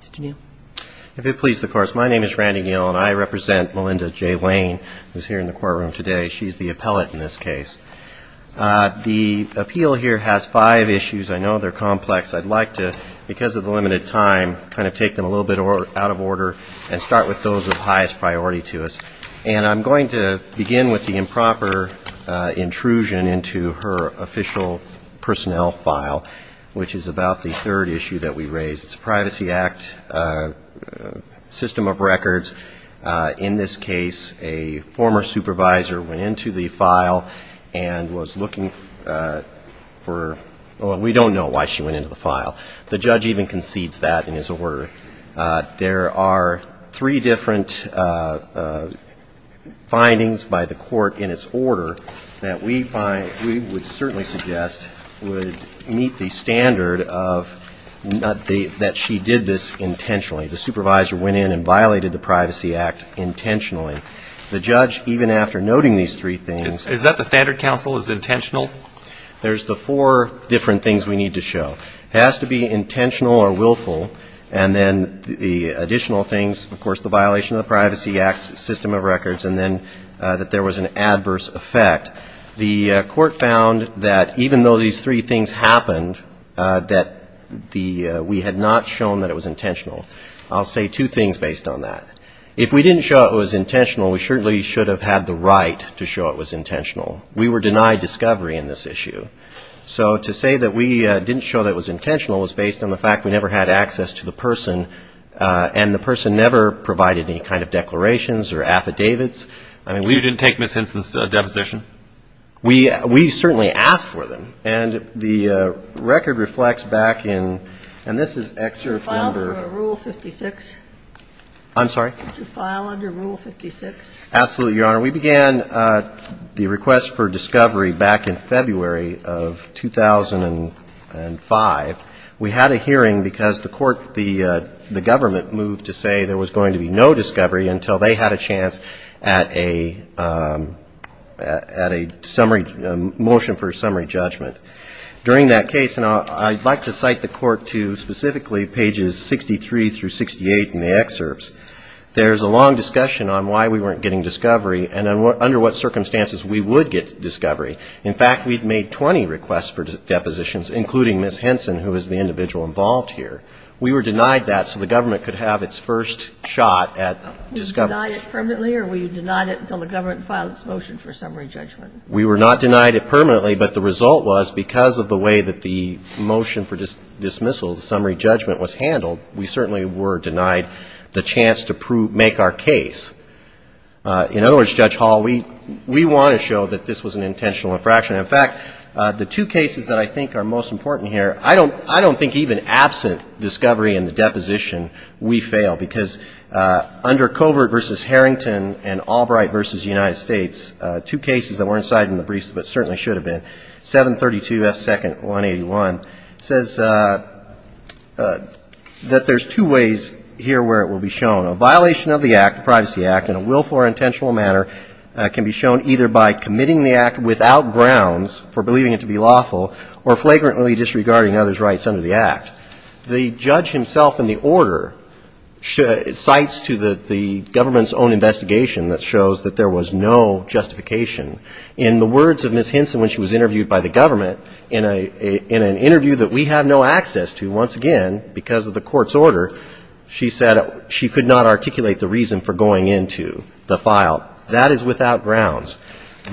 Mr. Neal. If it pleases the Court, my name is Randy Neal, and I represent Melinda J. Wayne, who is here in the courtroom today. She's the appellate in this case. The appeal here has five issues. I know they're complex. I'd like to, because of the limited time, kind of take them a little bit out of order and start with those of highest priority to us. And I'm going to begin with the improper intrusion into her official personnel file, which is about the third issue that we raised. It's a Privacy Act system of records. In this case, a former supervisor went into the file and was looking for, well, we don't know why she went into the file. The judge even concedes that in his order. There are three different findings by the court in its order that we would certainly suggest would meet the standard that she did this intentionally. The supervisor went in and violated the Privacy Act intentionally. The judge, even after noting these three things. Is that the standard counsel is intentional? There's the four different things we need to show. It has to be intentional or willful. And then the additional things, of course, the violation of the Privacy Act system of records, and then that there was an adverse effect. The court found that even though these three things happened, that we had not shown that it was intentional. I'll say two things based on that. If we didn't show it was intentional, we certainly should have had the right to show it was intentional. We were denied discovery in this issue. So to say that we didn't show that it was intentional was based on the fact we never had access to the person, and the person never provided any kind of declarations or affidavits. You didn't take Ms. Henson's deposition? We certainly asked for them. And the record reflects back in, and this is excerpt number 56. I'm sorry? To file under Rule 56. Absolutely, Your Honor. We began the request for discovery back in February of 2005. We had a hearing because the court, the government, moved to say there was going to be no discovery until they had a chance at a summary, a motion for a summary judgment. During that case, and I'd like to cite the court to specifically pages 63 through 68 in the excerpts, there's a long discussion on why we weren't getting discovery and under what circumstances we would get discovery. In fact, we'd made 20 requests for depositions, including Ms. Henson, who was the individual involved here. We were denied that so the government could have its first shot at discovery. You were denied it permanently, or were you denied it until the government filed its motion for summary judgment? We were not denied it permanently, but the result was because of the way that the motion for dismissal, the summary judgment, was handled, we certainly were denied the chance to prove, make our case. In other words, Judge Hall, we want to show that this was an intentional infraction. In fact, the two cases that I think are most important here, I don't think even absent discovery and the deposition, we fail because under Covert v. Harrington and Albright v. United States, two cases that weren't cited in the briefs but certainly should have been, 732F2-181, it says that there's two ways here where it will be shown. A violation of the act, the Privacy Act, in a willful or intentional manner can be shown either by committing the act without grounds for believing it to be lawful or flagrantly disregarding others' rights under the act. The judge himself in the order cites to the government's own investigation that shows that there was no justification. In the words of Ms. Hinson when she was interviewed by the government, in an interview that we have no access to, once again, because of the court's order, she said she could not articulate the reason for going into the file. That is without grounds.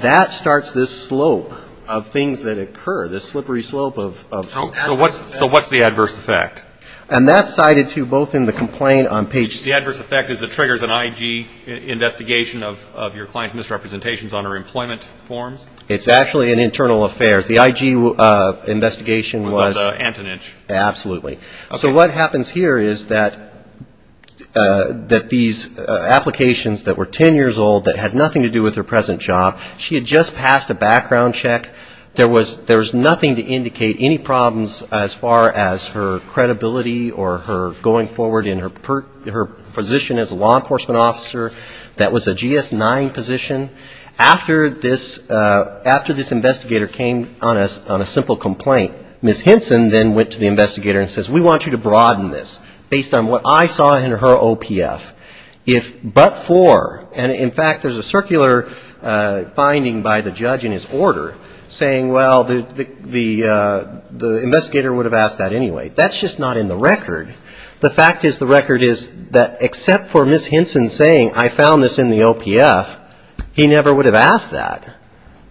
That starts this slope of things that occur, this slippery slope of adverse effects. So what's the adverse effect? And that's cited, too, both in the complaint on page 6. The adverse effect is it triggers an IG investigation of your client's misrepresentations on her employment forms? It's actually an internal affair. The IG investigation was at Antonich. Absolutely. So what happens here is that these applications that were 10 years old that had nothing to do with her present job, she had just passed a background check. There was nothing to indicate any problems as far as her credibility or her going forward in her position as a law enforcement officer. That was a GS-9 position. After this investigator came on a simple complaint, Ms. Hinson then went to the investigator and says, we want you to broaden this based on what I saw in her OPF. If but for, and in fact there's a circular finding by the judge in his order saying, well, the investigator would have asked that anyway. That's just not in the record. The fact is the record is that except for Ms. Hinson saying, I found this in the OPF, he never would have asked that.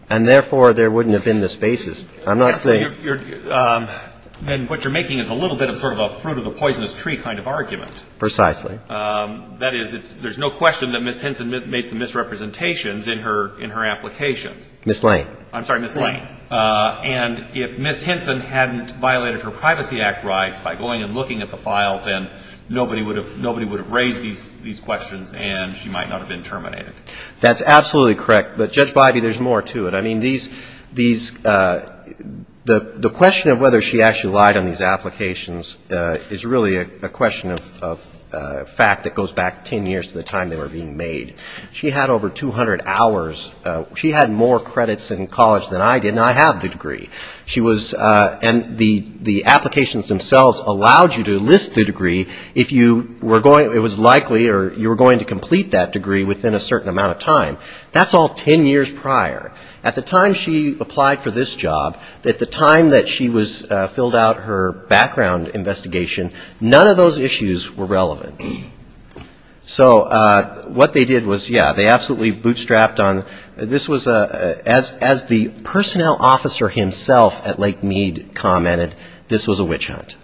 And therefore, there wouldn't have been this basis. I'm not saying. And what you're making is a little bit of sort of a fruit of the poisonous tree kind of argument. Precisely. That is, there's no question that Ms. Hinson made some misrepresentations in her applications. Ms. Lane. I'm sorry, Ms. Lane. Ms. Lane. And if Ms. Hinson hadn't violated her Privacy Act rights by going and looking at the file, then nobody would have raised these questions and she might not have been terminated. That's absolutely correct. But, Judge Biby, there's more to it. I mean, these the question of whether she actually lied on these applications is really a question of fact that goes back 10 years to the time they were being made. She had over 200 hours. She had more credits in college than I did, and I have the degree. She was and the applications themselves allowed you to list the degree if you were going it was likely or you were going to complete that degree within a certain amount of time. That's all 10 years prior. At the time she applied for this job, at the time that she was filled out her background investigation, none of those issues were relevant. So what they did was, yeah, they absolutely bootstrapped on this was as the personnel officer himself at Lake Mead commented, this was a witch hunt.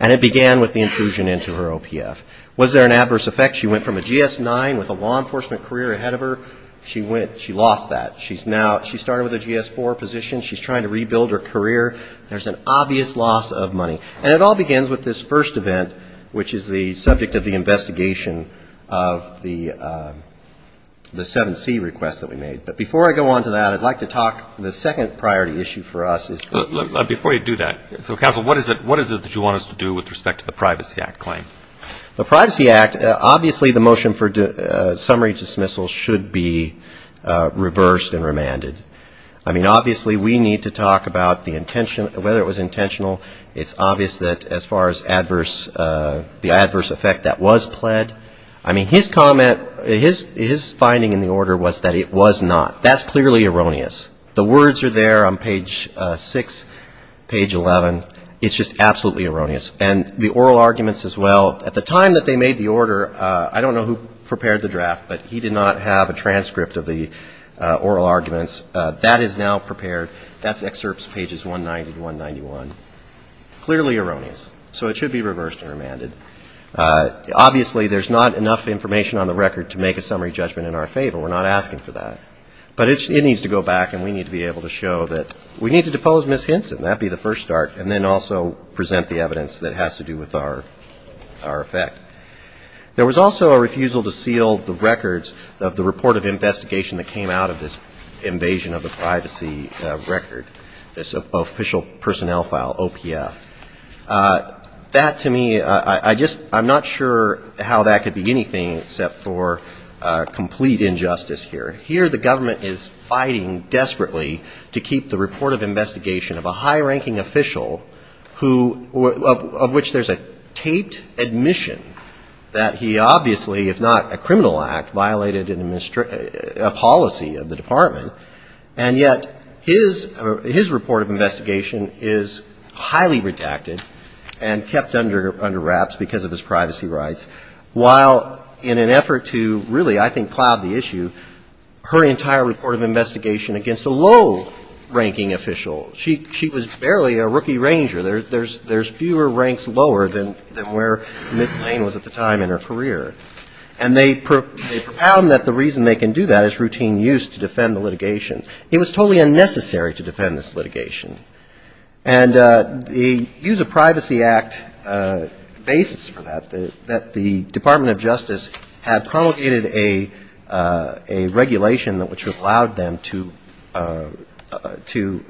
And it began with the intrusion into her OPF. Was there an adverse effect? She went from a GS-9 with a law enforcement career ahead of her. She went, she lost that. She's now, she started with a GS-4 position. She's trying to rebuild her career. There's an obvious loss of money. And it all begins with this first event, which is the subject of the investigation of the 7C request that we made. But before I go on to that, I'd like to talk, the second priority issue for us is. Before you do that, so counsel, what is it that you want us to do with respect to the Privacy Act claim? The Privacy Act, obviously the motion for summary dismissal should be reversed and remanded. I mean, obviously we need to talk about the intention, whether it was intentional. It's obvious that as far as adverse, the adverse effect that was pled. I mean, his comment, his finding in the order was that it was not. That's clearly erroneous. The words are there on page 6, page 11. It's just absolutely erroneous. And the oral arguments as well. At the time that they made the order, I don't know who prepared the draft, but he did not have a transcript of the oral arguments. That is now prepared. That's excerpts pages 190 to 191. Clearly erroneous. So it should be reversed and remanded. Obviously, there's not enough information on the record to make a summary judgment in our favor. We're not asking for that. But it needs to go back, and we need to be able to show that we need to depose Ms. Hinson. That would be the first start. And then also present the evidence that has to do with our effect. There was also a refusal to seal the records of the report of investigation that came out of this invasion of the privacy record, this official personnel file, OPF. That, to me, I'm not sure how that could be anything except for complete injustice here. Here the government is fighting desperately to keep the report of investigation of a high-ranking official who, of which there's a taped admission that he obviously, if not a criminal act, violated a policy of the department. And yet his report of investigation is highly redacted and kept under wraps because of his privacy rights, while in an effort to really, I think, plow the issue, her entire report of investigation against a low-ranking official. She was barely a rookie ranger. There's fewer ranks lower than where Ms. Lane was at the time in her career. And they propound that the reason they can do that is routine use to defend the litigation. It was totally unnecessary to defend this litigation. And the Use of Privacy Act basis for that, that the Department of Justice had promulgated a regulation which allowed them to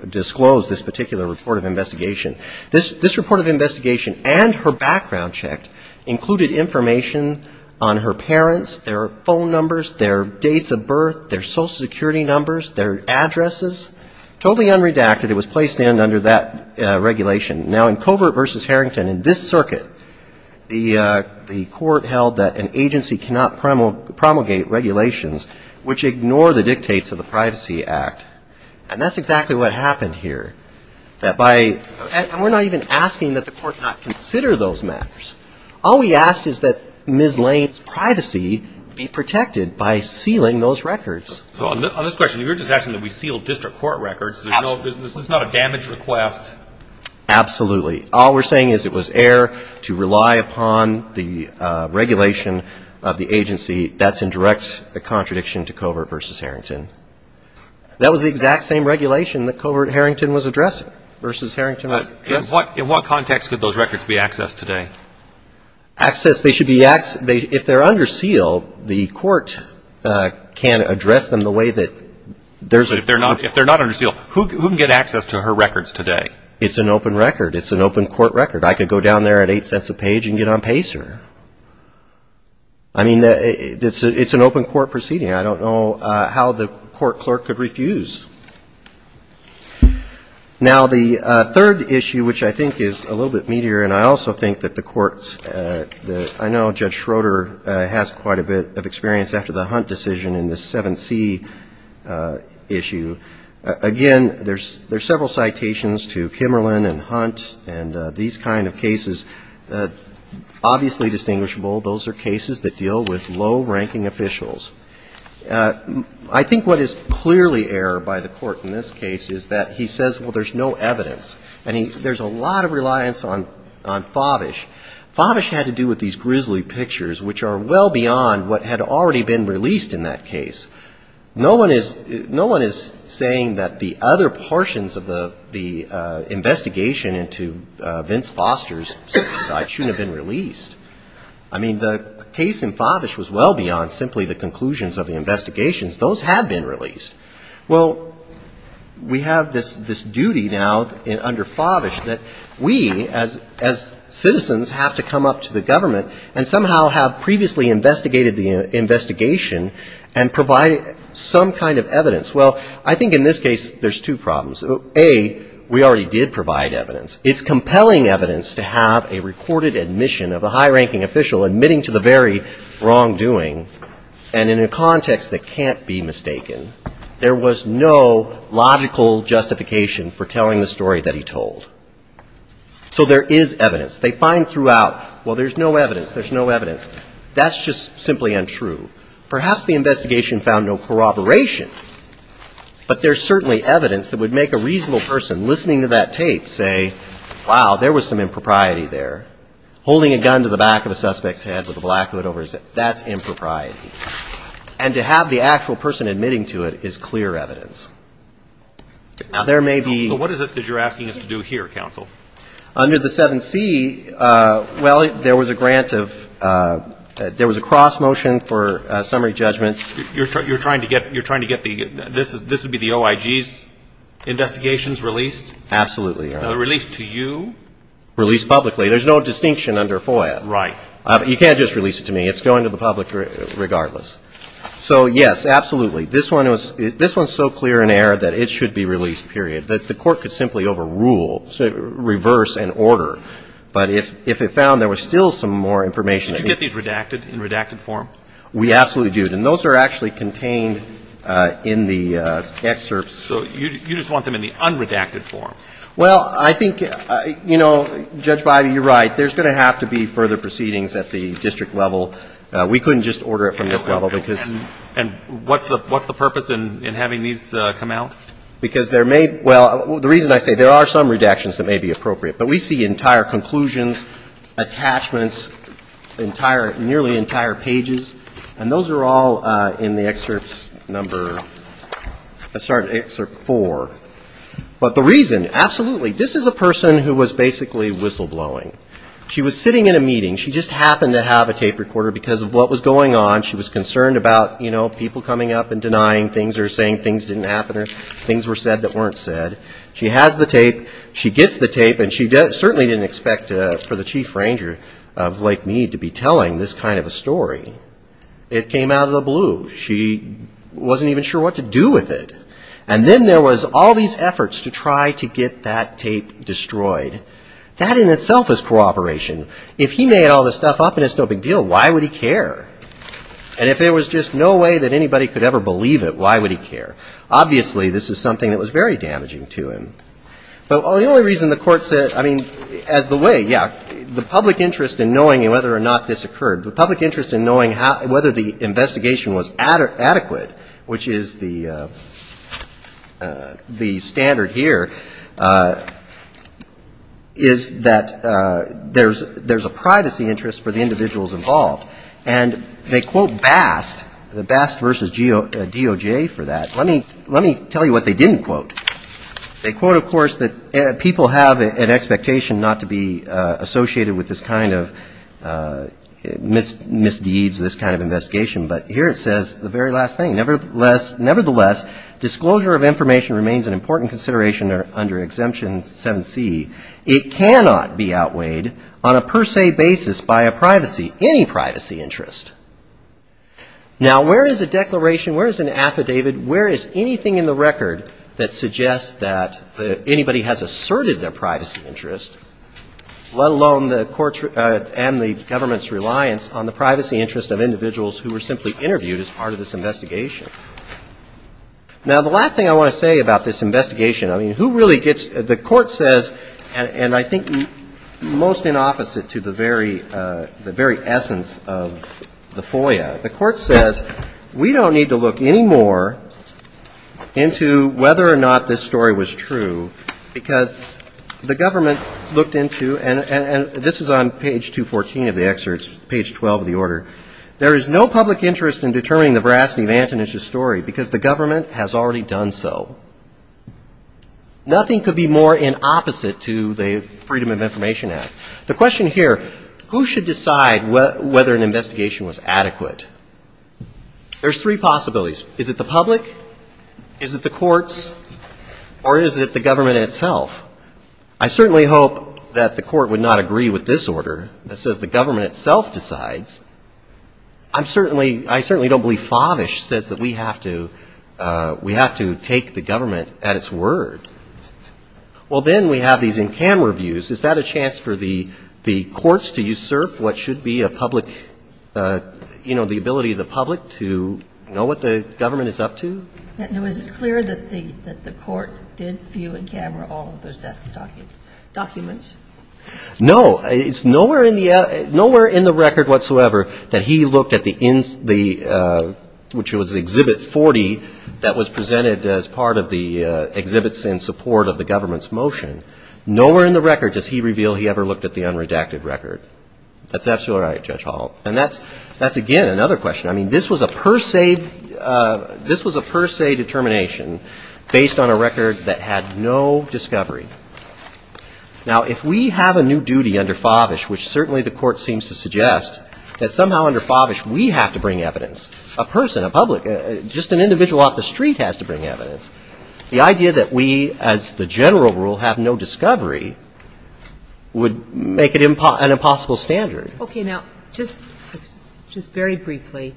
disclose this particular report of investigation. This report of investigation and her background check included information on her parents, their phone numbers, their dates of birth, totally unredacted. It was placed in under that regulation. Now, in Covert v. Harrington, in this circuit, the court held that an agency cannot promulgate regulations which ignore the dictates of the Privacy Act. And that's exactly what happened here. And we're not even asking that the court not consider those matters. All we asked is that Ms. Lane's privacy be protected by sealing those records. On this question, you're just asking that we seal district court records. This is not a damage request. Absolutely. All we're saying is it was error to rely upon the regulation of the agency. That's in direct contradiction to Covert v. Harrington. That was the exact same regulation that Covert Harrington was addressing, v. Harrington was addressing. In what context could those records be accessed today? Access, they should be accessed, if they're under seal, the court can address them the way that there's a But if they're not under seal, who can get access to her records today? It's an open record. It's an open court record. I could go down there at eight cents a page and get on PACER. I mean, it's an open court proceeding. I don't know how the court clerk could refuse. Now, the third issue, which I think is a little bit meatier, and I also think that the courts, I know Judge Schroeder has quite a bit of experience after the Hunt decision in the 7C issue. Again, there's several citations to Kimmerlin and Hunt and these kind of cases. Obviously distinguishable, those are cases that deal with low-ranking officials. I think what is clearly error by the court in this case is that he says, well, there's no evidence. And there's a lot of reliance on Favish. Favish had to do with these grisly pictures, which are well beyond what had already been released in that case. No one is saying that the other portions of the investigation into Vince Foster's suicide shouldn't have been released. I mean, the case in Favish was well beyond simply the conclusions of the investigations. Those had been released. Well, we have this duty now under Favish that we as citizens have to come up to the government and somehow have previously investigated the investigation and provided some kind of evidence. Well, I think in this case there's two problems. A, we already did provide evidence. It's compelling evidence to have a recorded admission of a high-ranking official admitting to the very wrongdoing. And in a context that can't be mistaken, there was no logical justification for telling the story that he told. So there is evidence. They find throughout, well, there's no evidence, there's no evidence. That's just simply untrue. Perhaps the investigation found no corroboration. But there's certainly evidence that would make a reasonable person listening to that tape say, wow, there was some impropriety there. Holding a gun to the back of a suspect's head with a black hood over his head, that's impropriety. And to have the actual person admitting to it is clear evidence. Now, there may be ‑‑ So what is it that you're asking us to do here, counsel? Under the 7C, well, there was a grant of ‑‑ there was a cross motion for summary judgments. You're trying to get the ‑‑ this would be the OIG's investigations released? Absolutely. Released to you? Released publicly. There's no distinction under FOIA. Right. You can't just release it to me. It's going to the public regardless. So, yes, absolutely. This one is so clear in error that it should be released, period. The court could simply overrule, reverse an order. But if it found there was still some more information ‑‑ Did you get these redacted in redacted form? We absolutely did. And those are actually contained in the excerpts. So you just want them in the unredacted form? Well, I think, you know, Judge Bybee, you're right. There's going to have to be further proceedings at the district level. We couldn't just order it from this level because ‑‑ And what's the purpose in having these come out? Because there may ‑‑ well, the reason I say there are some redactions that may be appropriate. But we see entire conclusions, attachments, nearly entire pages. And those are all in the excerpts number ‑‑ I'm sorry, excerpt four. But the reason, absolutely, this is a person who was basically whistleblowing. She was sitting in a meeting. She just happened to have a tape recorder because of what was going on. She was concerned about, you know, people coming up and denying things or saying things didn't happen or things were said that weren't said. She has the tape. She gets the tape. And she certainly didn't expect for the chief ranger of Lake Mead to be telling this kind of a story. It came out of the blue. She wasn't even sure what to do with it. And then there was all these efforts to try to get that tape destroyed. That in itself is cooperation. If he made all this stuff up and it's no big deal, why would he care? And if there was just no way that anybody could ever believe it, why would he care? Obviously, this is something that was very damaging to him. But the only reason the court said, I mean, as the way, yeah, the public interest in knowing whether or not this occurred, the public interest in knowing whether the investigation was adequate, which is the standard here, is that there's a privacy interest for the individuals involved. And they quote Bast, Bast versus DOJ for that. Let me tell you what they didn't quote. They quote, of course, that people have an expectation not to be associated with this kind of misdeeds, this kind of investigation. But here it says the very last thing. Nevertheless, disclosure of information remains an important consideration under Exemption 7C. It cannot be outweighed on a per se basis by a privacy, any privacy interest. Now, where is a declaration? Where is an affidavit? Where is anything in the record that suggests that anybody has asserted their privacy interest, let alone the court's and the government's reliance on the privacy interest of individuals who were simply interviewed as part of this investigation? Now, the last thing I want to say about this investigation, I mean, who really gets, the court says, and I think most in opposite to the very essence of the FOIA, the court says we don't need to look any more into whether or not this story was true, because the government looked into, and this is on page 214 of the excerpts, page 12 of the order, there is no public interest in determining the veracity of Antonich's story because the government has already done so. Nothing could be more in opposite to the Freedom of Information Act. The question here, who should decide whether an investigation was adequate? There's three possibilities. Is it the public? Is it the courts? Or is it the government itself? I certainly hope that the court would not agree with this order that says the government itself decides. I'm certainly, I certainly don't believe Favish says that we have to, we have to take the government at its word. Well, then we have these in-camera views. Is that a chance for the courts to usurp what should be a public, you know, the ability of the public to know what the government is up to? And was it clear that the court did view in camera all of those documents? No, it's nowhere in the record whatsoever that he looked at the, which was Exhibit 40 that was presented as part of the exhibits in support of the government's motion. Nowhere in the record does he reveal he ever looked at the unredacted record. That's absolutely right, Judge Hall. And that's, again, another question. I mean, this was a per se, this was a per se determination based on a record that had no discovery. Now, if we have a new duty under Favish, which certainly the court seems to suggest, that somehow under Favish we have to bring evidence, a person, a public, just an individual off the street has to bring evidence. The idea that we, as the general rule, have no discovery would make it an impossible standard. Okay, now, just very briefly,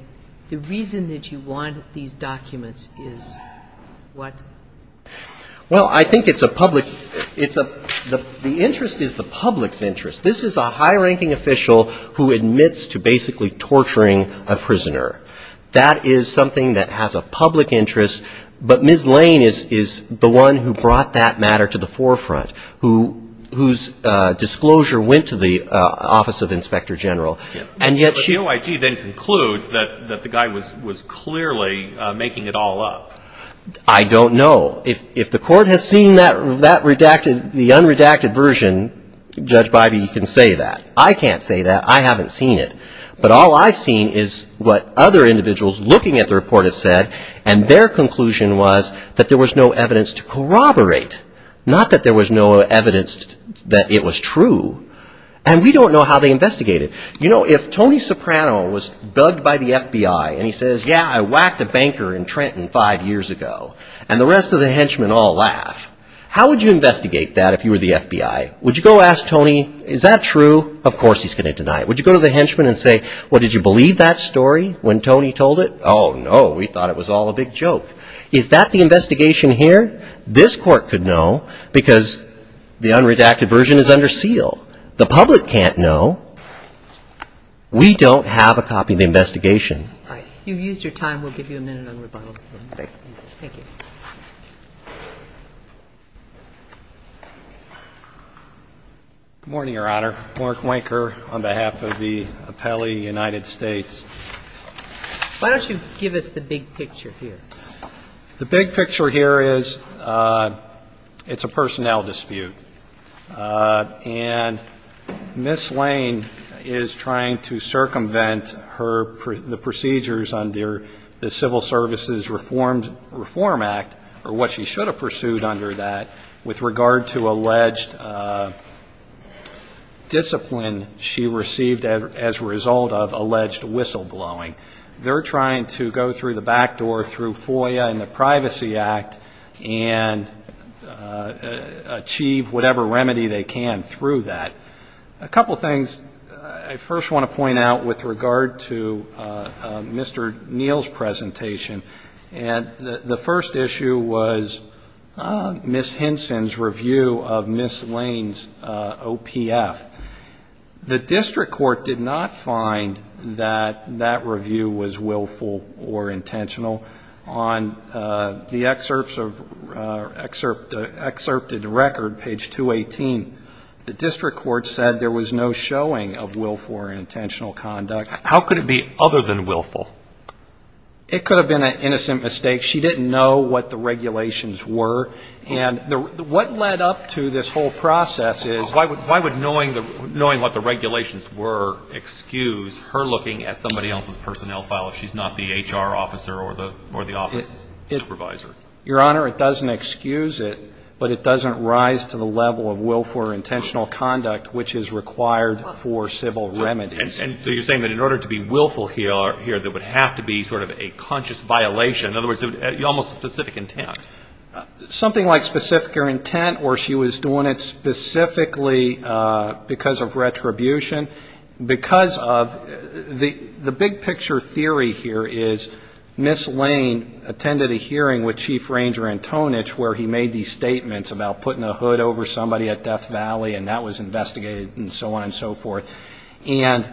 the reason that you want these documents is what? Well, I think it's a public, it's a, the interest is the public's interest. This is a high-ranking official who admits to basically torturing a prisoner. That is something that has a public interest, but Ms. Lane is the one who brought that matter to the forefront, whose disclosure went to the Office of Inspector General. But the OIG then concludes that the guy was clearly making it all up. I don't know. If the court has seen that redacted, the unredacted version, Judge Bybee, you can say that. I can't say that. I haven't seen it. But all I've seen is what other individuals looking at the report have said, and their conclusion was that there was no evidence to corroborate, not that there was no evidence that it was true. And we don't know how they investigated. You know, if Tony Soprano was bugged by the FBI and he says, yeah, I whacked a banker in Trenton five years ago, and the rest of the henchmen all laugh, how would you investigate that if you were the FBI? Would you go ask Tony, is that true? Of course he's going to deny it. Would you go to the henchmen and say, well, did you believe that story when Tony told it? Oh, no, we thought it was all a big joke. Is that the investigation here? This court could know because the unredacted version is under seal. The public can't know. We don't have a copy of the investigation. All right. You've used your time. We'll give you a minute on rebuttal. Thank you. Thank you. Good morning, Your Honor. Mark Wanker on behalf of the appellee, United States. Why don't you give us the big picture here? The big picture here is it's a personnel dispute. And Ms. Lane is trying to circumvent the procedures under the Civil Services Reform Act, or what she should have pursued under that, with regard to alleged discipline she received as a result of alleged whistleblowing. They're trying to go through the back door, through FOIA and the Privacy Act, and achieve whatever remedy they can through that. A couple of things I first want to point out with regard to Mr. Neal's presentation. The first issue was Ms. Hinson's review of Ms. Lane's OPF. The district court did not find that that review was willful or intentional. On the excerpted record, page 218, the district court said there was no showing of willful or intentional conduct. How could it be other than willful? It could have been an innocent mistake. She didn't know what the regulations were. And what led up to this whole process is why would knowing the regulations excuse her looking at somebody else's personnel file if she's not the HR officer or the office supervisor? Your Honor, it doesn't excuse it, but it doesn't rise to the level of willful or intentional conduct which is required for civil remedies. And so you're saying that in order to be willful here, there would have to be sort of a conscious violation, in other words, almost specific intent. Something like specific intent or she was doing it specifically because of retribution. Because of the big picture theory here is Ms. Lane attended a hearing with Chief Ranger Antonich where he made these statements about putting a hood over somebody at Death Valley and that was investigated and so on and so forth. And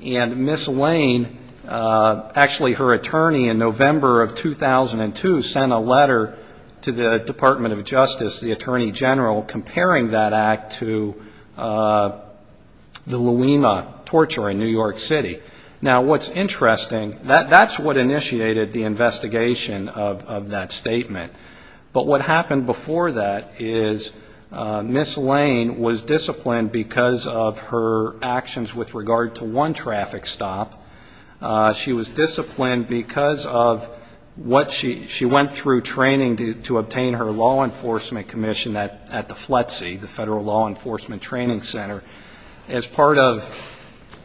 Ms. Lane, actually her attorney in November of 2002 sent a letter to the Department of Justice, the Attorney General, comparing that act to the Louima torture in New York City. Now, what's interesting, that's what initiated the investigation of that statement. But what happened before that is Ms. Lane was disciplined because of her actions with regard to one traffic stop. She was disciplined because of what she went through training to obtain her law enforcement commission at the FLETC, the Federal Law Enforcement Training Center. As part of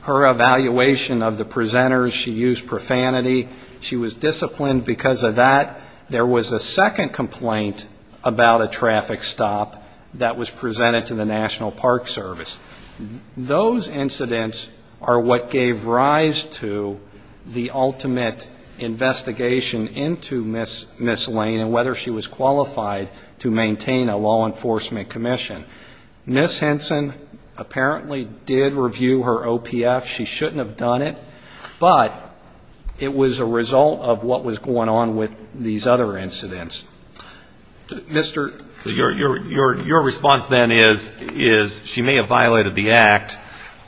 her evaluation of the presenters, she used profanity. She was disciplined because of that. There was a second complaint about a traffic stop that was presented to the National Park Service. Those incidents are what gave rise to the ultimate investigation into Ms. Lane and whether she was qualified to maintain a law enforcement commission. Ms. Henson apparently did review her OPF. She shouldn't have done it, but it was a result of what was going on with these other incidents. Mr. ---- Your response then is she may have violated the act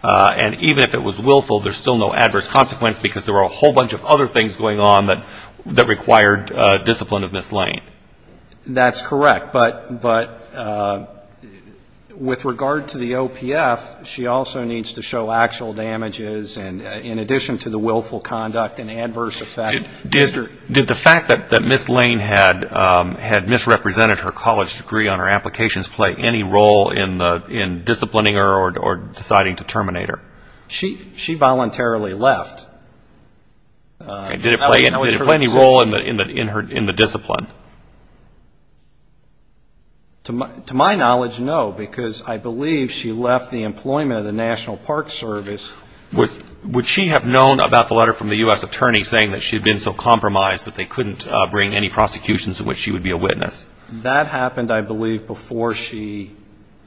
and even if it was willful, there's still no adverse consequence because there were a whole bunch of other things going on that required discipline of Ms. Lane. That's correct. But with regard to the OPF, she also needs to show actual damages in addition to the willful conduct and adverse effect. Did the fact that Ms. Lane had misrepresented her college degree on her applications play any role in disciplining her or deciding to terminate her? She voluntarily left. Did it play any role in the discipline? To my knowledge, no, because I believe she left the employment of the National Park Service. Would she have known about the letter from the U.S. Attorney saying that she had been so compromised that they couldn't bring any prosecutions in which she would be a witness? That happened, I believe, before she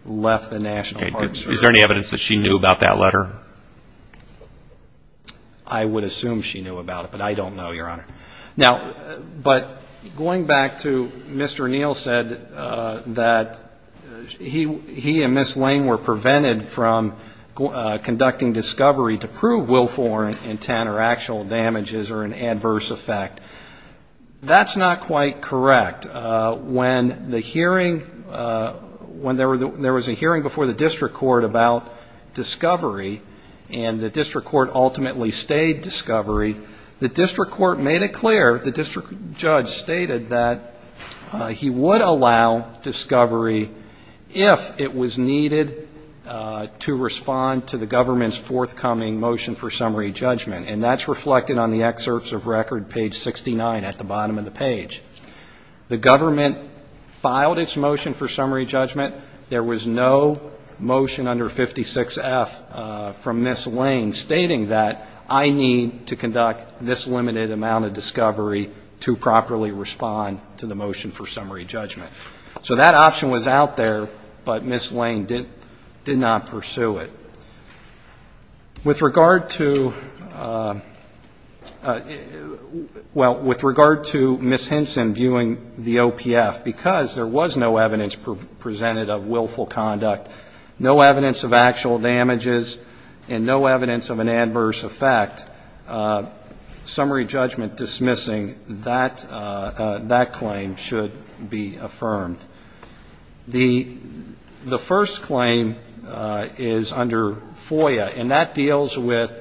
left the National Park Service. Is there any evidence that she knew about that letter? I would assume she knew about it, but I don't know, Your Honor. Now, but going back to Mr. Neal said that he and Ms. Lane were prevented from conducting discovery to prove willful intent or actual damages or an adverse effect. That's not quite correct. When the hearing, when there was a hearing before the district court about discovery and the district court ultimately stayed discovery, the district court made it clear, the district judge stated that he would allow discovery if it was needed to respond to the government's forthcoming motion for summary judgment, and that's reflected on the excerpts of record page 69 at the bottom of the page. The government filed its motion for summary judgment. There was no motion under 56F from Ms. Lane stating that I need to conduct this limited amount of discovery to properly respond to the motion for summary judgment. So that option was out there, but Ms. Lane did not pursue it. With regard to, well, with regard to Ms. Hinson viewing the OPF, because there was no evidence presented of willful conduct, no evidence of actual damages, and no evidence of an adverse effect, summary judgment dismissing that claim should be affirmed. The first claim is under FOIA, and that deals with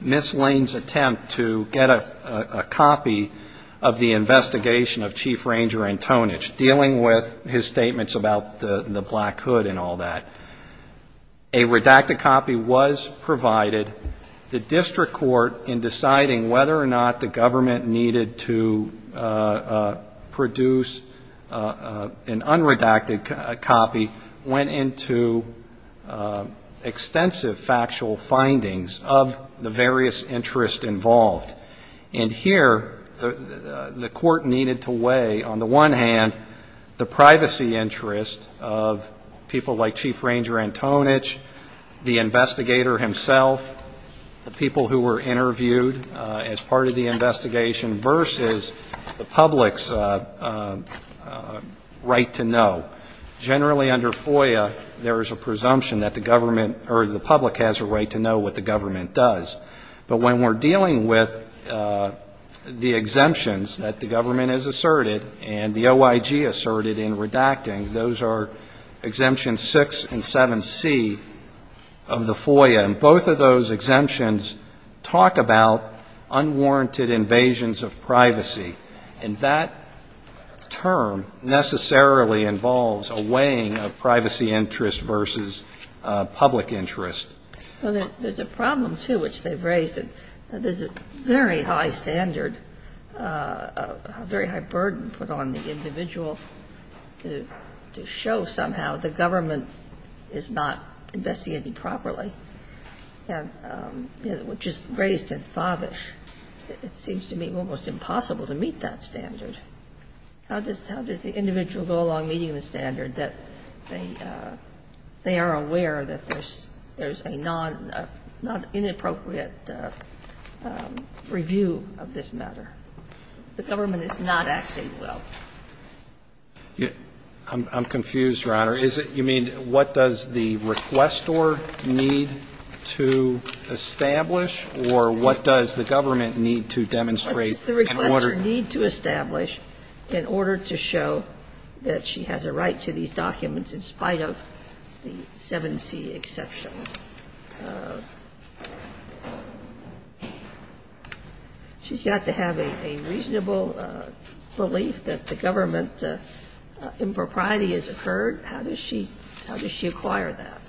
Ms. Lane's attempt to get a copy of the investigation of Chief Ranger Antonich, dealing with his statements about the Black Hood and all that. A redacted copy was provided. The district court, in deciding whether or not the government needed to produce an unredacted copy, went into extensive factual findings of the various interests involved. And here the court needed to weigh, on the one hand, the privacy interests of people like Chief Ranger Antonich, the investigator himself, the people who were interviewed as part of the investigation, versus the public's right to know. Generally under FOIA, there is a presumption that the government, or the public has a right to know what the government does. But when we're dealing with the exemptions that the government has asserted and the OIG asserted in redacting, those are exemptions 6 and 7C of the FOIA. And both of those exemptions talk about unwarranted invasions of privacy. And that term necessarily involves a weighing of privacy interest versus public interest. Well, there's a problem, too, which they've raised. And there's a very high standard, a very high burden put on the individual to show somehow the government is not investigating properly, which is raised in Favish. It seems to me almost impossible to meet that standard. How does the individual go along meeting the standard that they are aware that there's a non- inappropriate review of this matter? The government is not acting well. I'm confused, Your Honor. Is it you mean what does the requestor need to establish, or what does the government need to demonstrate in order to show that she has a right to these documents in spite of the 7C exception? She's got to have a reasonable belief that the government impropriety has occurred. How does she acquire that?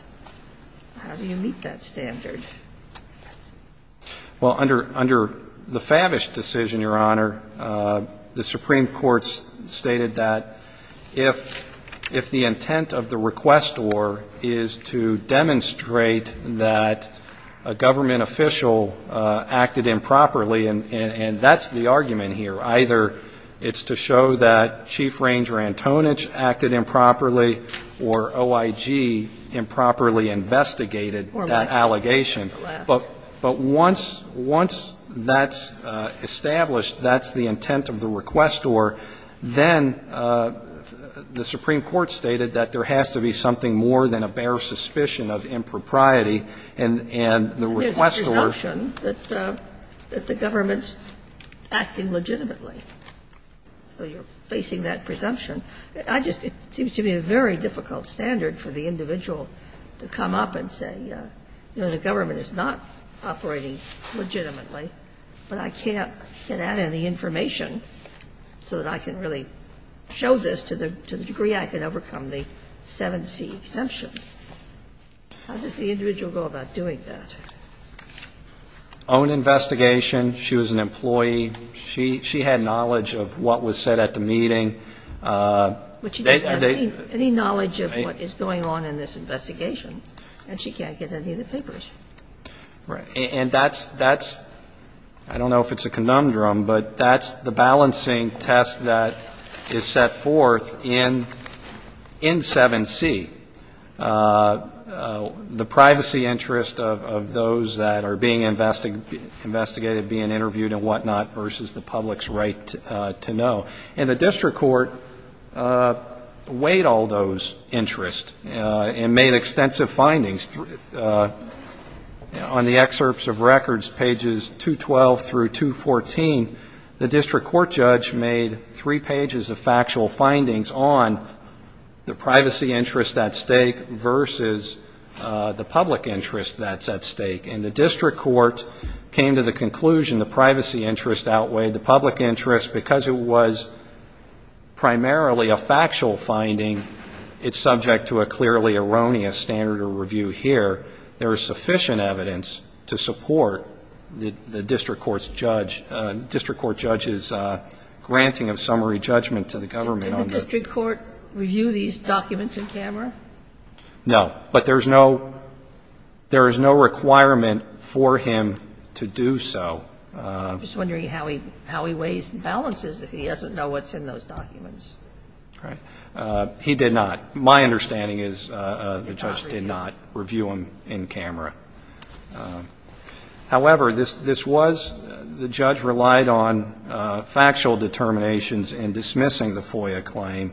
How do you meet that standard? Well, under the Favish decision, Your Honor, the Supreme Court stated that if the intent of the requestor is to demonstrate that a government official acted improperly, and that's the argument here. Either it's to show that Chief Ranger Antonich acted improperly or OIG improperly investigated that allegation. But once that's established, that's the intent of the requestor, then the Supreme Court stated that there has to be something more than a bare suspicion of impropriety, and the requestor was. There's a presumption that the government's acting legitimately. So you're facing that presumption. I just seem to be a very difficult standard for the individual to come up and say, you know, the government is not operating legitimately, but I can't get at any information so that I can really show this to the degree I can overcome the 7C exemption. How does the individual go about doing that? Own investigation. She was an employee. She had knowledge of what was said at the meeting. But she doesn't have any knowledge of what is going on in this investigation, and she can't get any of the papers. Right. And that's, I don't know if it's a conundrum, but that's the balancing test that is set forth in 7C. The privacy interest of those that are being investigated, being interviewed and whatnot versus the public's right to know. And the district court weighed all those interests and made extensive findings. On the excerpts of records, pages 212 through 214, the district court judge made three pages of factual findings on the privacy interest at stake versus the public interest that's at stake. And the district court came to the conclusion the privacy interest outweighed the public interest because it was primarily a factual finding. It's subject to a clearly erroneous standard of review here. There is sufficient evidence to support the district court judge's granting of summary judgment to the government. Did the district court review these documents in camera? No. But there is no requirement for him to do so. I'm just wondering how he weighs and balances if he doesn't know what's in those documents. Right. He did not. My understanding is the judge did not review them in camera. However, this was, the judge relied on factual determinations in dismissing the FOIA claim,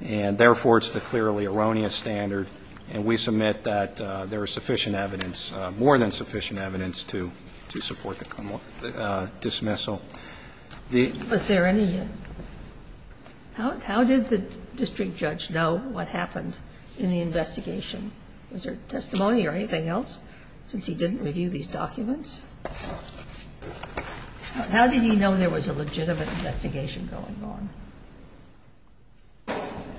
and therefore it's the clearly erroneous standard, and we submit that there is sufficient evidence, more than sufficient evidence, to support the dismissal. Was there any, how did the district judge know what happened in the investigation? Was there testimony or anything else since he didn't review these documents? How did he know there was a legitimate investigation going on?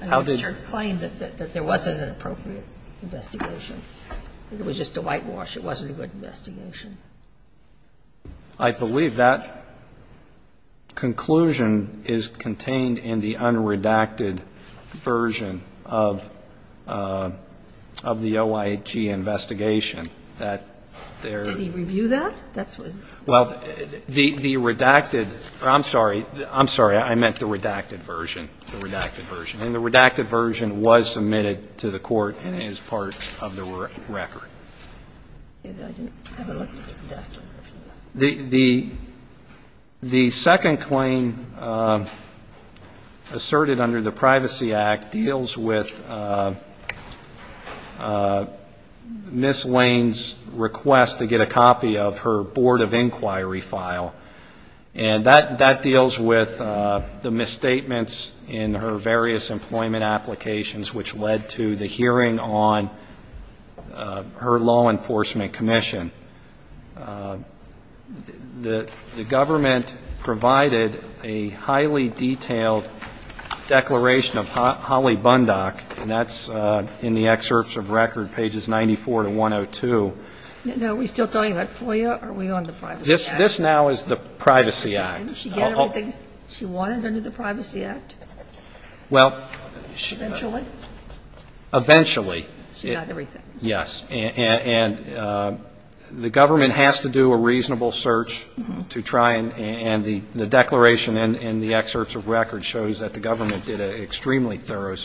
I mean, the district claimed that there wasn't an appropriate investigation. It was just a whitewash. It wasn't a good investigation. I believe that conclusion is contained in the unredacted version of the OIG investigation. Did he review that? Well, the redacted, or I'm sorry, I'm sorry. I meant the redacted version, the redacted version. And the redacted version was submitted to the Court and is part of the record. I didn't have a look at the redacted version. The second claim asserted under the Privacy Act deals with Ms. Lane's request to get a copy of her Board of Inquiry file. And that deals with the misstatements in her various employment applications which led to the hearing on her law enforcement commission. The government provided a highly detailed declaration of Holly Bundock, and that's in the excerpts of record, pages 94 to 102. Now, are we still talking about FOIA? Are we on the Privacy Act? This now is the Privacy Act. Didn't she get everything she wanted under the Privacy Act? Eventually. Eventually. She got everything. Yes. And the government has to do a reasonable search to try and the declaration in the excerpts of record shows that the government did an extremely thorough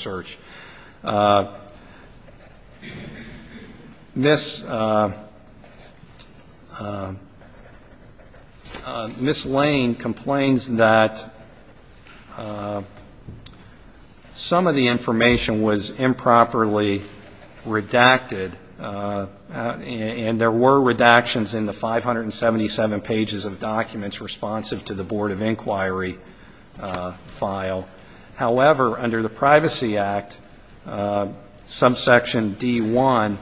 Ms. Lane complains that some of the information was improperly redacted, and there were redactions in the 577 pages of documents responsive to the Board of Inquiry file. However, under the Privacy Act, subsection D1,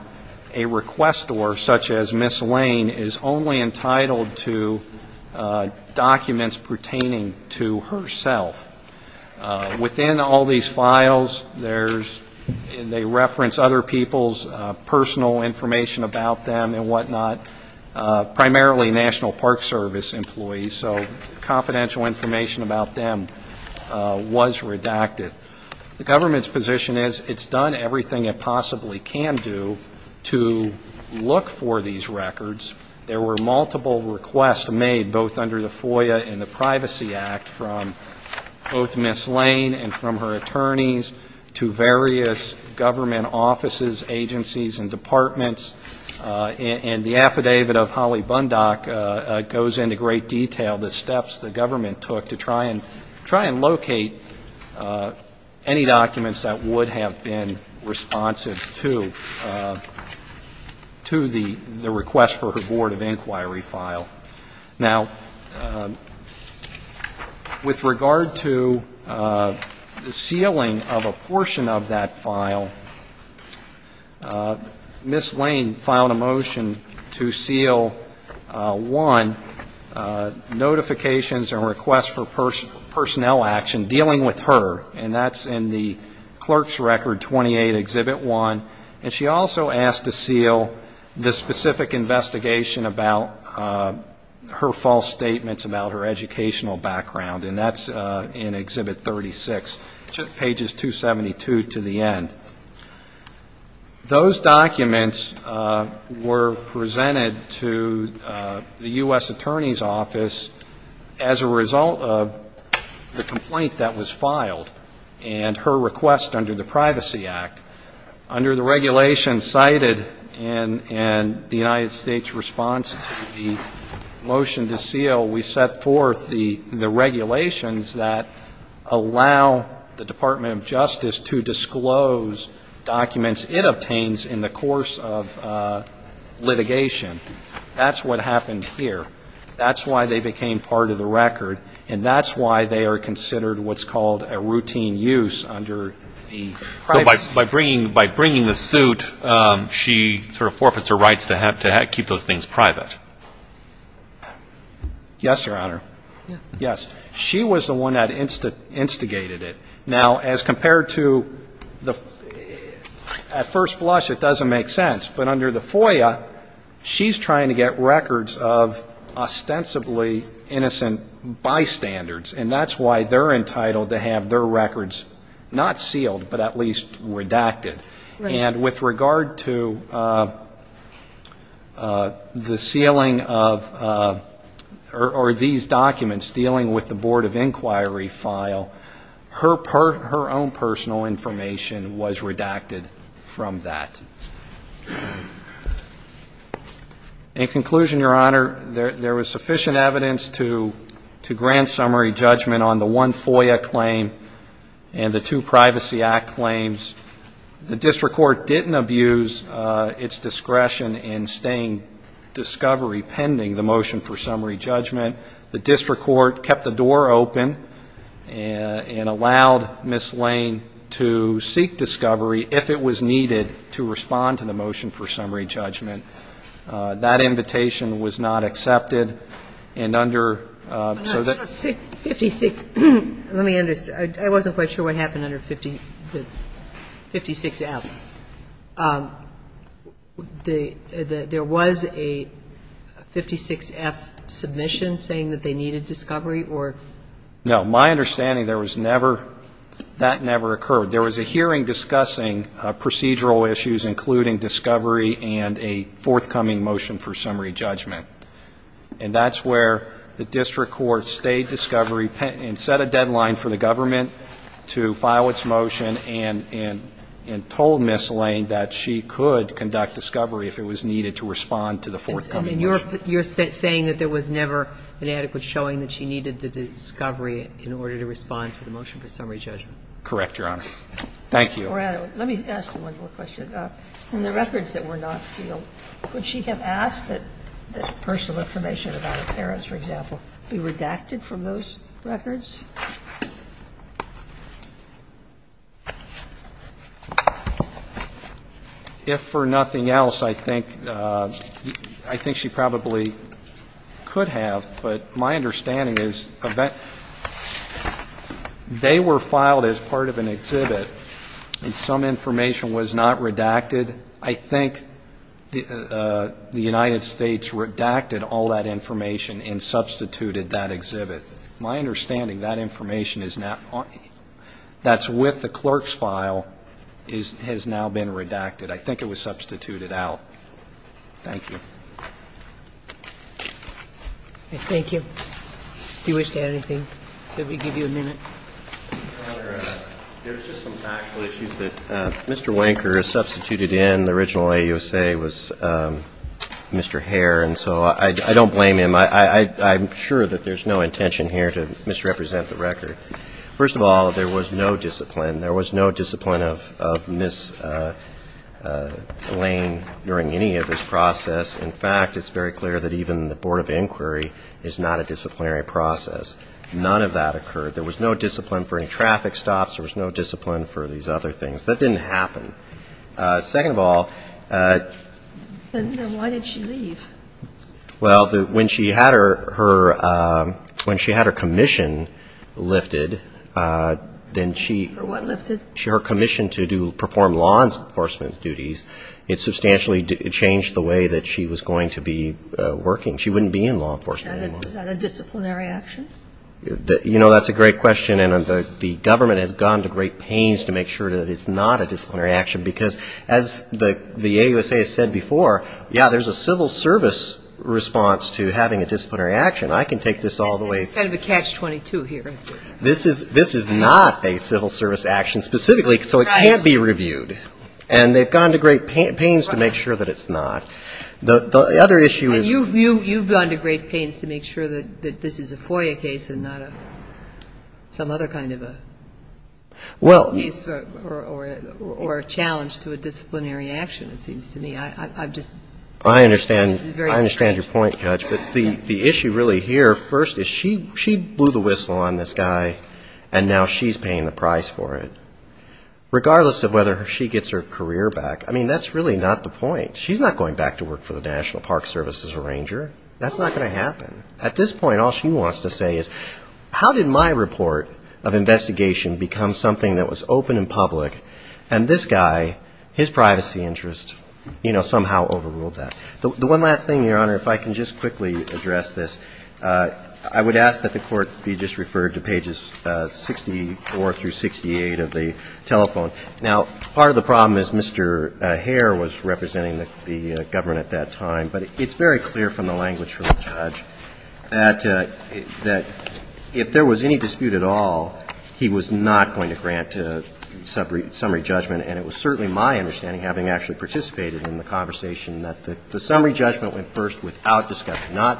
a requestor such as Ms. Lane is only entitled to documents pertaining to herself. Within all these files, they reference other people's personal information about them and whatnot, primarily National Park Service employees, so confidential information about them, was redacted. The government's position is it's done everything it possibly can do to look for these records. There were multiple requests made both under the FOIA and the Privacy Act from both Ms. Lane and from her attorneys to various government offices, agencies, and departments, and the affidavit of Holly Bundock goes into great detail the steps the government took to try and locate any documents that would have been responsive to the request for her Board of Inquiry file. Now, with regard to the sealing of a portion of that file, Ms. Lane filed a motion to seal, one, notifications and requests for personnel action dealing with her, and that's in the Clerk's Record 28, Exhibit 1. And she also asked to seal the specific investigation about her false statements about her educational background, and that's in Exhibit 36, pages 272 to the end. Those documents were presented to the U.S. Attorney's Office as a result of the complaint that was filed and her request under the Privacy Act. Under the regulations cited in the United States response to the motion to seal, we set forth the regulations that allow the Department of Justice to disclose documents it obtains in the course of litigation. That's what happened here. That's why they became part of the record, and that's why they are considered what's called a routine use under the Privacy Act. So by bringing the suit, she sort of forfeits her rights to keep those things private? Yes, Your Honor. Yes. She was the one that instigated it. Now, as compared to the first flush, it doesn't make sense. But under the FOIA, she's trying to get records of ostensibly innocent bystanders, and that's why they're entitled to have their records not sealed but at least redacted. And with regard to the sealing of or these documents dealing with the Board of Inquiry file, her own personal information was redacted from that. In conclusion, Your Honor, there was sufficient evidence to grant summary judgment on the one FOIA claim and the two Privacy Act claims. The district court didn't abuse its discretion in staying discovery pending the motion for summary judgment. The district court kept the door open and allowed Ms. Lane to seek discovery if it was needed to respond to the motion for summary judgment. That invitation was not accepted. And under so that's 56. Let me understand. I wasn't quite sure what happened under 56F. There was a 56F submission saying that they needed discovery or No. My understanding, there was never, that never occurred. There was a hearing discussing procedural issues including discovery and a forthcoming motion for summary judgment. And that's where the district court stayed discovery and set a deadline for the government to file its motion and told Ms. Lane that she could conduct discovery if it was needed to respond to the forthcoming motion. And you're saying that there was never an adequate showing that she needed the discovery in order to respond to the motion for summary judgment? Correct, Your Honor. Thank you. Let me ask one more question. In the records that were not sealed, could she have asked that personal information about her parents, for example, be redacted from those records? If for nothing else, I think she probably could have, but my understanding is they were filed as part of an exhibit and some information was not redacted I think the United States redacted all that information and substituted that exhibit. My understanding, that information that's with the clerk's file has now been redacted. I think it was substituted out. Thank you. Thank you. Do you wish to add anything? Should we give you a minute? Your Honor, there's just some factual issues that Mr. Wanker substituted in. The original AUSA was Mr. Hare, and so I don't blame him. I'm sure that there's no intention here to misrepresent the record. First of all, there was no discipline. There was no discipline of Ms. Lane during any of this process. In fact, it's very clear that even the Board of Inquiry is not a disciplinary process. None of that occurred. There was no discipline for any traffic stops. There was no discipline for these other things. That didn't happen. Second of all, Then why did she leave? Well, when she had her commission lifted, then she Her what lifted? Her commission to perform law enforcement duties, it substantially changed the way that she was going to be working. She wouldn't be in law enforcement anymore. Is that a disciplinary action? You know, that's a great question, and the government has gone to great pains to make sure that it's not a disciplinary action because, as the AUSA has said before, yeah, there's a civil service response to having a disciplinary action. I can take this all the way This is kind of a catch-22 here. This is not a civil service action specifically, so it can't be reviewed. And they've gone to great pains to make sure that it's not. The other issue is You've gone to great pains to make sure that this is a FOIA case and not some other kind of a case or a challenge to a disciplinary action, it seems to me. I just think this is very strange. I understand your point, Judge, but the issue really here first is she blew the whistle on this guy, and now she's paying the price for it, regardless of whether she gets her career back. I mean, that's really not the point. She's not going back to work for the National Park Service as a ranger. That's not going to happen. At this point, all she wants to say is, how did my report of investigation become something that was open and public, and this guy, his privacy interests, you know, somehow overruled that? The one last thing, Your Honor, if I can just quickly address this. I would ask that the Court be just referred to pages 64 through 68 of the telephone. Now, part of the problem is Mr. Hare was representing the government at that time, but it's very clear from the language from the judge that if there was any dispute at all, he was not going to grant summary judgment. And it was certainly my understanding, having actually participated in the conversation, that the summary judgment went first without discovery, not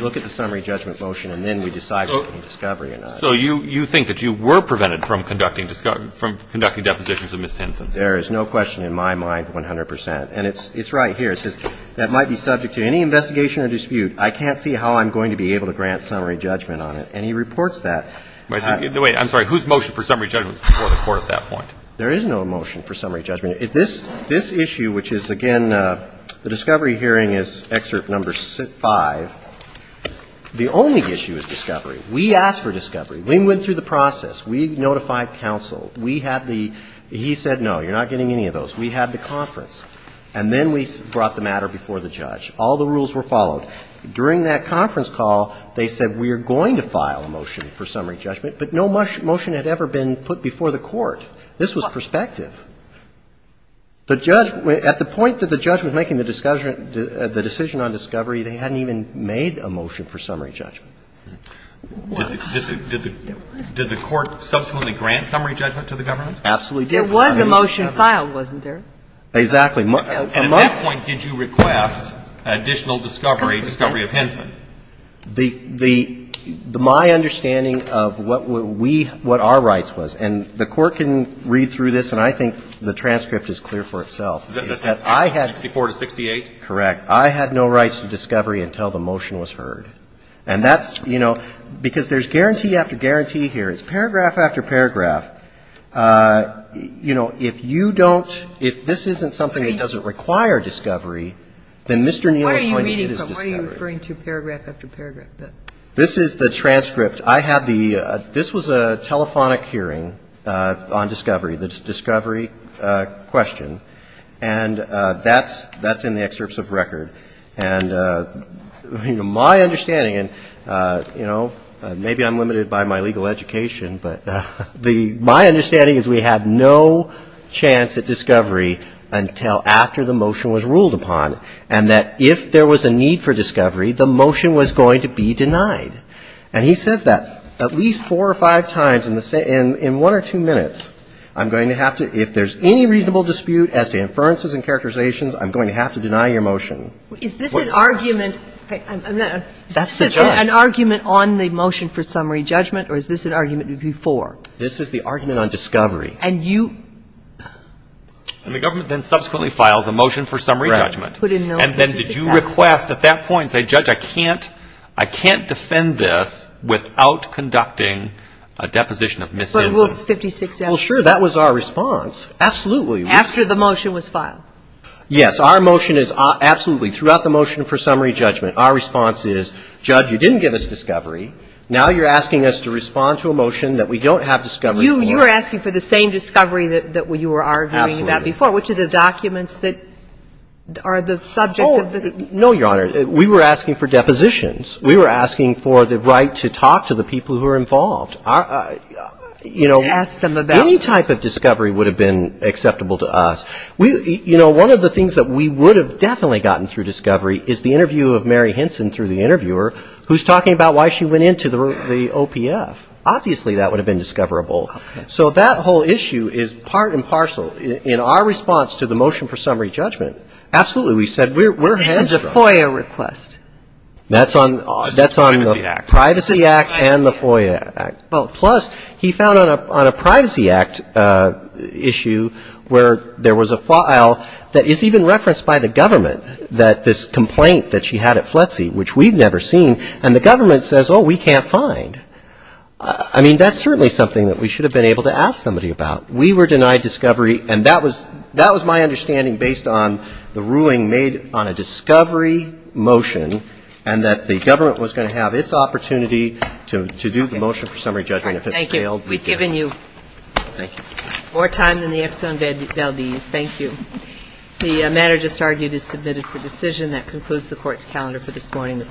look at the summary judgment motion and then we decide whether there's discovery or not. So you think that you were prevented from conducting depositions of Ms. Henson? There is no question in my mind, 100 percent. And it's right here. It says, that might be subject to any investigation or dispute. I can't see how I'm going to be able to grant summary judgment on it. And he reports that. Wait. I'm sorry. Whose motion for summary judgment is before the Court at that point? There is no motion for summary judgment. This issue, which is, again, the discovery hearing is excerpt number 5. The only issue is discovery. We asked for discovery. We went through the process. We notified counsel. We had the – he said, no, you're not getting any of those. We had the conference. And then we brought the matter before the judge. All the rules were followed. During that conference call, they said, we are going to file a motion for summary judgment, but no motion had ever been put before the Court. This was perspective. The judge – at the point that the judge was making the decision on discovery, they hadn't even made a motion for summary judgment. Did the Court subsequently grant summary judgment to the government? Absolutely. There was a motion filed, wasn't there? Exactly. And at that point, did you request additional discovery, discovery of Henson? The – my understanding of what we – what our rights was, and the Court can read through this, and I think the transcript is clear for itself, is that I had – 64 to 68? Correct. I had no rights to discovery until the motion was heard. And that's – you know, because there's guarantee after guarantee here. It's paragraph after paragraph. You know, if you don't – if this isn't something that doesn't require discovery, then Mr. Neal is going to need his discovery. Why are you reading from – why are you referring to paragraph after paragraph? This is the transcript. I have the – this was a telephonic hearing on discovery, the discovery question. And that's – that's in the excerpts of record. And, you know, my understanding – and, you know, maybe I'm limited by my legal education, but the – my understanding is we had no chance at discovery until after the motion was ruled upon, and that if there was a need for discovery, the motion was going to be denied. And he says that at least four or five times in the – in one or two minutes. I'm going to have to – if there's any reasonable dispute as to inferences and Is this an argument – is this an argument on the motion for summary judgment, or is this an argument before? This is the argument on discovery. And you – And the government then subsequently files a motion for summary judgment. Right. And then did you request at that point, say, Judge, I can't – I can't defend this without conducting a deposition of missing – But Rule 56 – Well, sure. That was our response. Absolutely. After the motion was filed. Yes. Our motion is – absolutely. Throughout the motion for summary judgment, our response is, Judge, you didn't give us discovery. Now you're asking us to respond to a motion that we don't have discovery for. You were asking for the same discovery that you were arguing about before. Absolutely. Which are the documents that are the subject of the – Oh, no, Your Honor. We were asking for depositions. We were asking for the right to talk to the people who were involved. You know, any type of discovery would have been acceptable to us. We – you know, one of the things that we would have definitely gotten through discovery is the interview of Mary Hinson through the interviewer, who's talking about why she went into the OPF. Obviously, that would have been discoverable. Okay. So that whole issue is part and parcel in our response to the motion for summary judgment. Absolutely. We said we're – This is a FOIA request. That's on – It's the Privacy Act. Privacy Act and the FOIA Act. Plus, he found on a Privacy Act issue where there was a file that is even referenced by the government that this complaint that she had at FLETC, which we've never seen, and the government says, oh, we can't find. I mean, that's certainly something that we should have been able to ask somebody about. We were denied discovery, and that was – that was my understanding based on the ruling made on a discovery motion and that the government was going to have its opportunity to do the motion for summary judgment. All right. Thank you. We've given you more time than the Exxon Valdez. Thank you. The matter just argued is submitted for decision. That concludes the Court's calendar for this morning.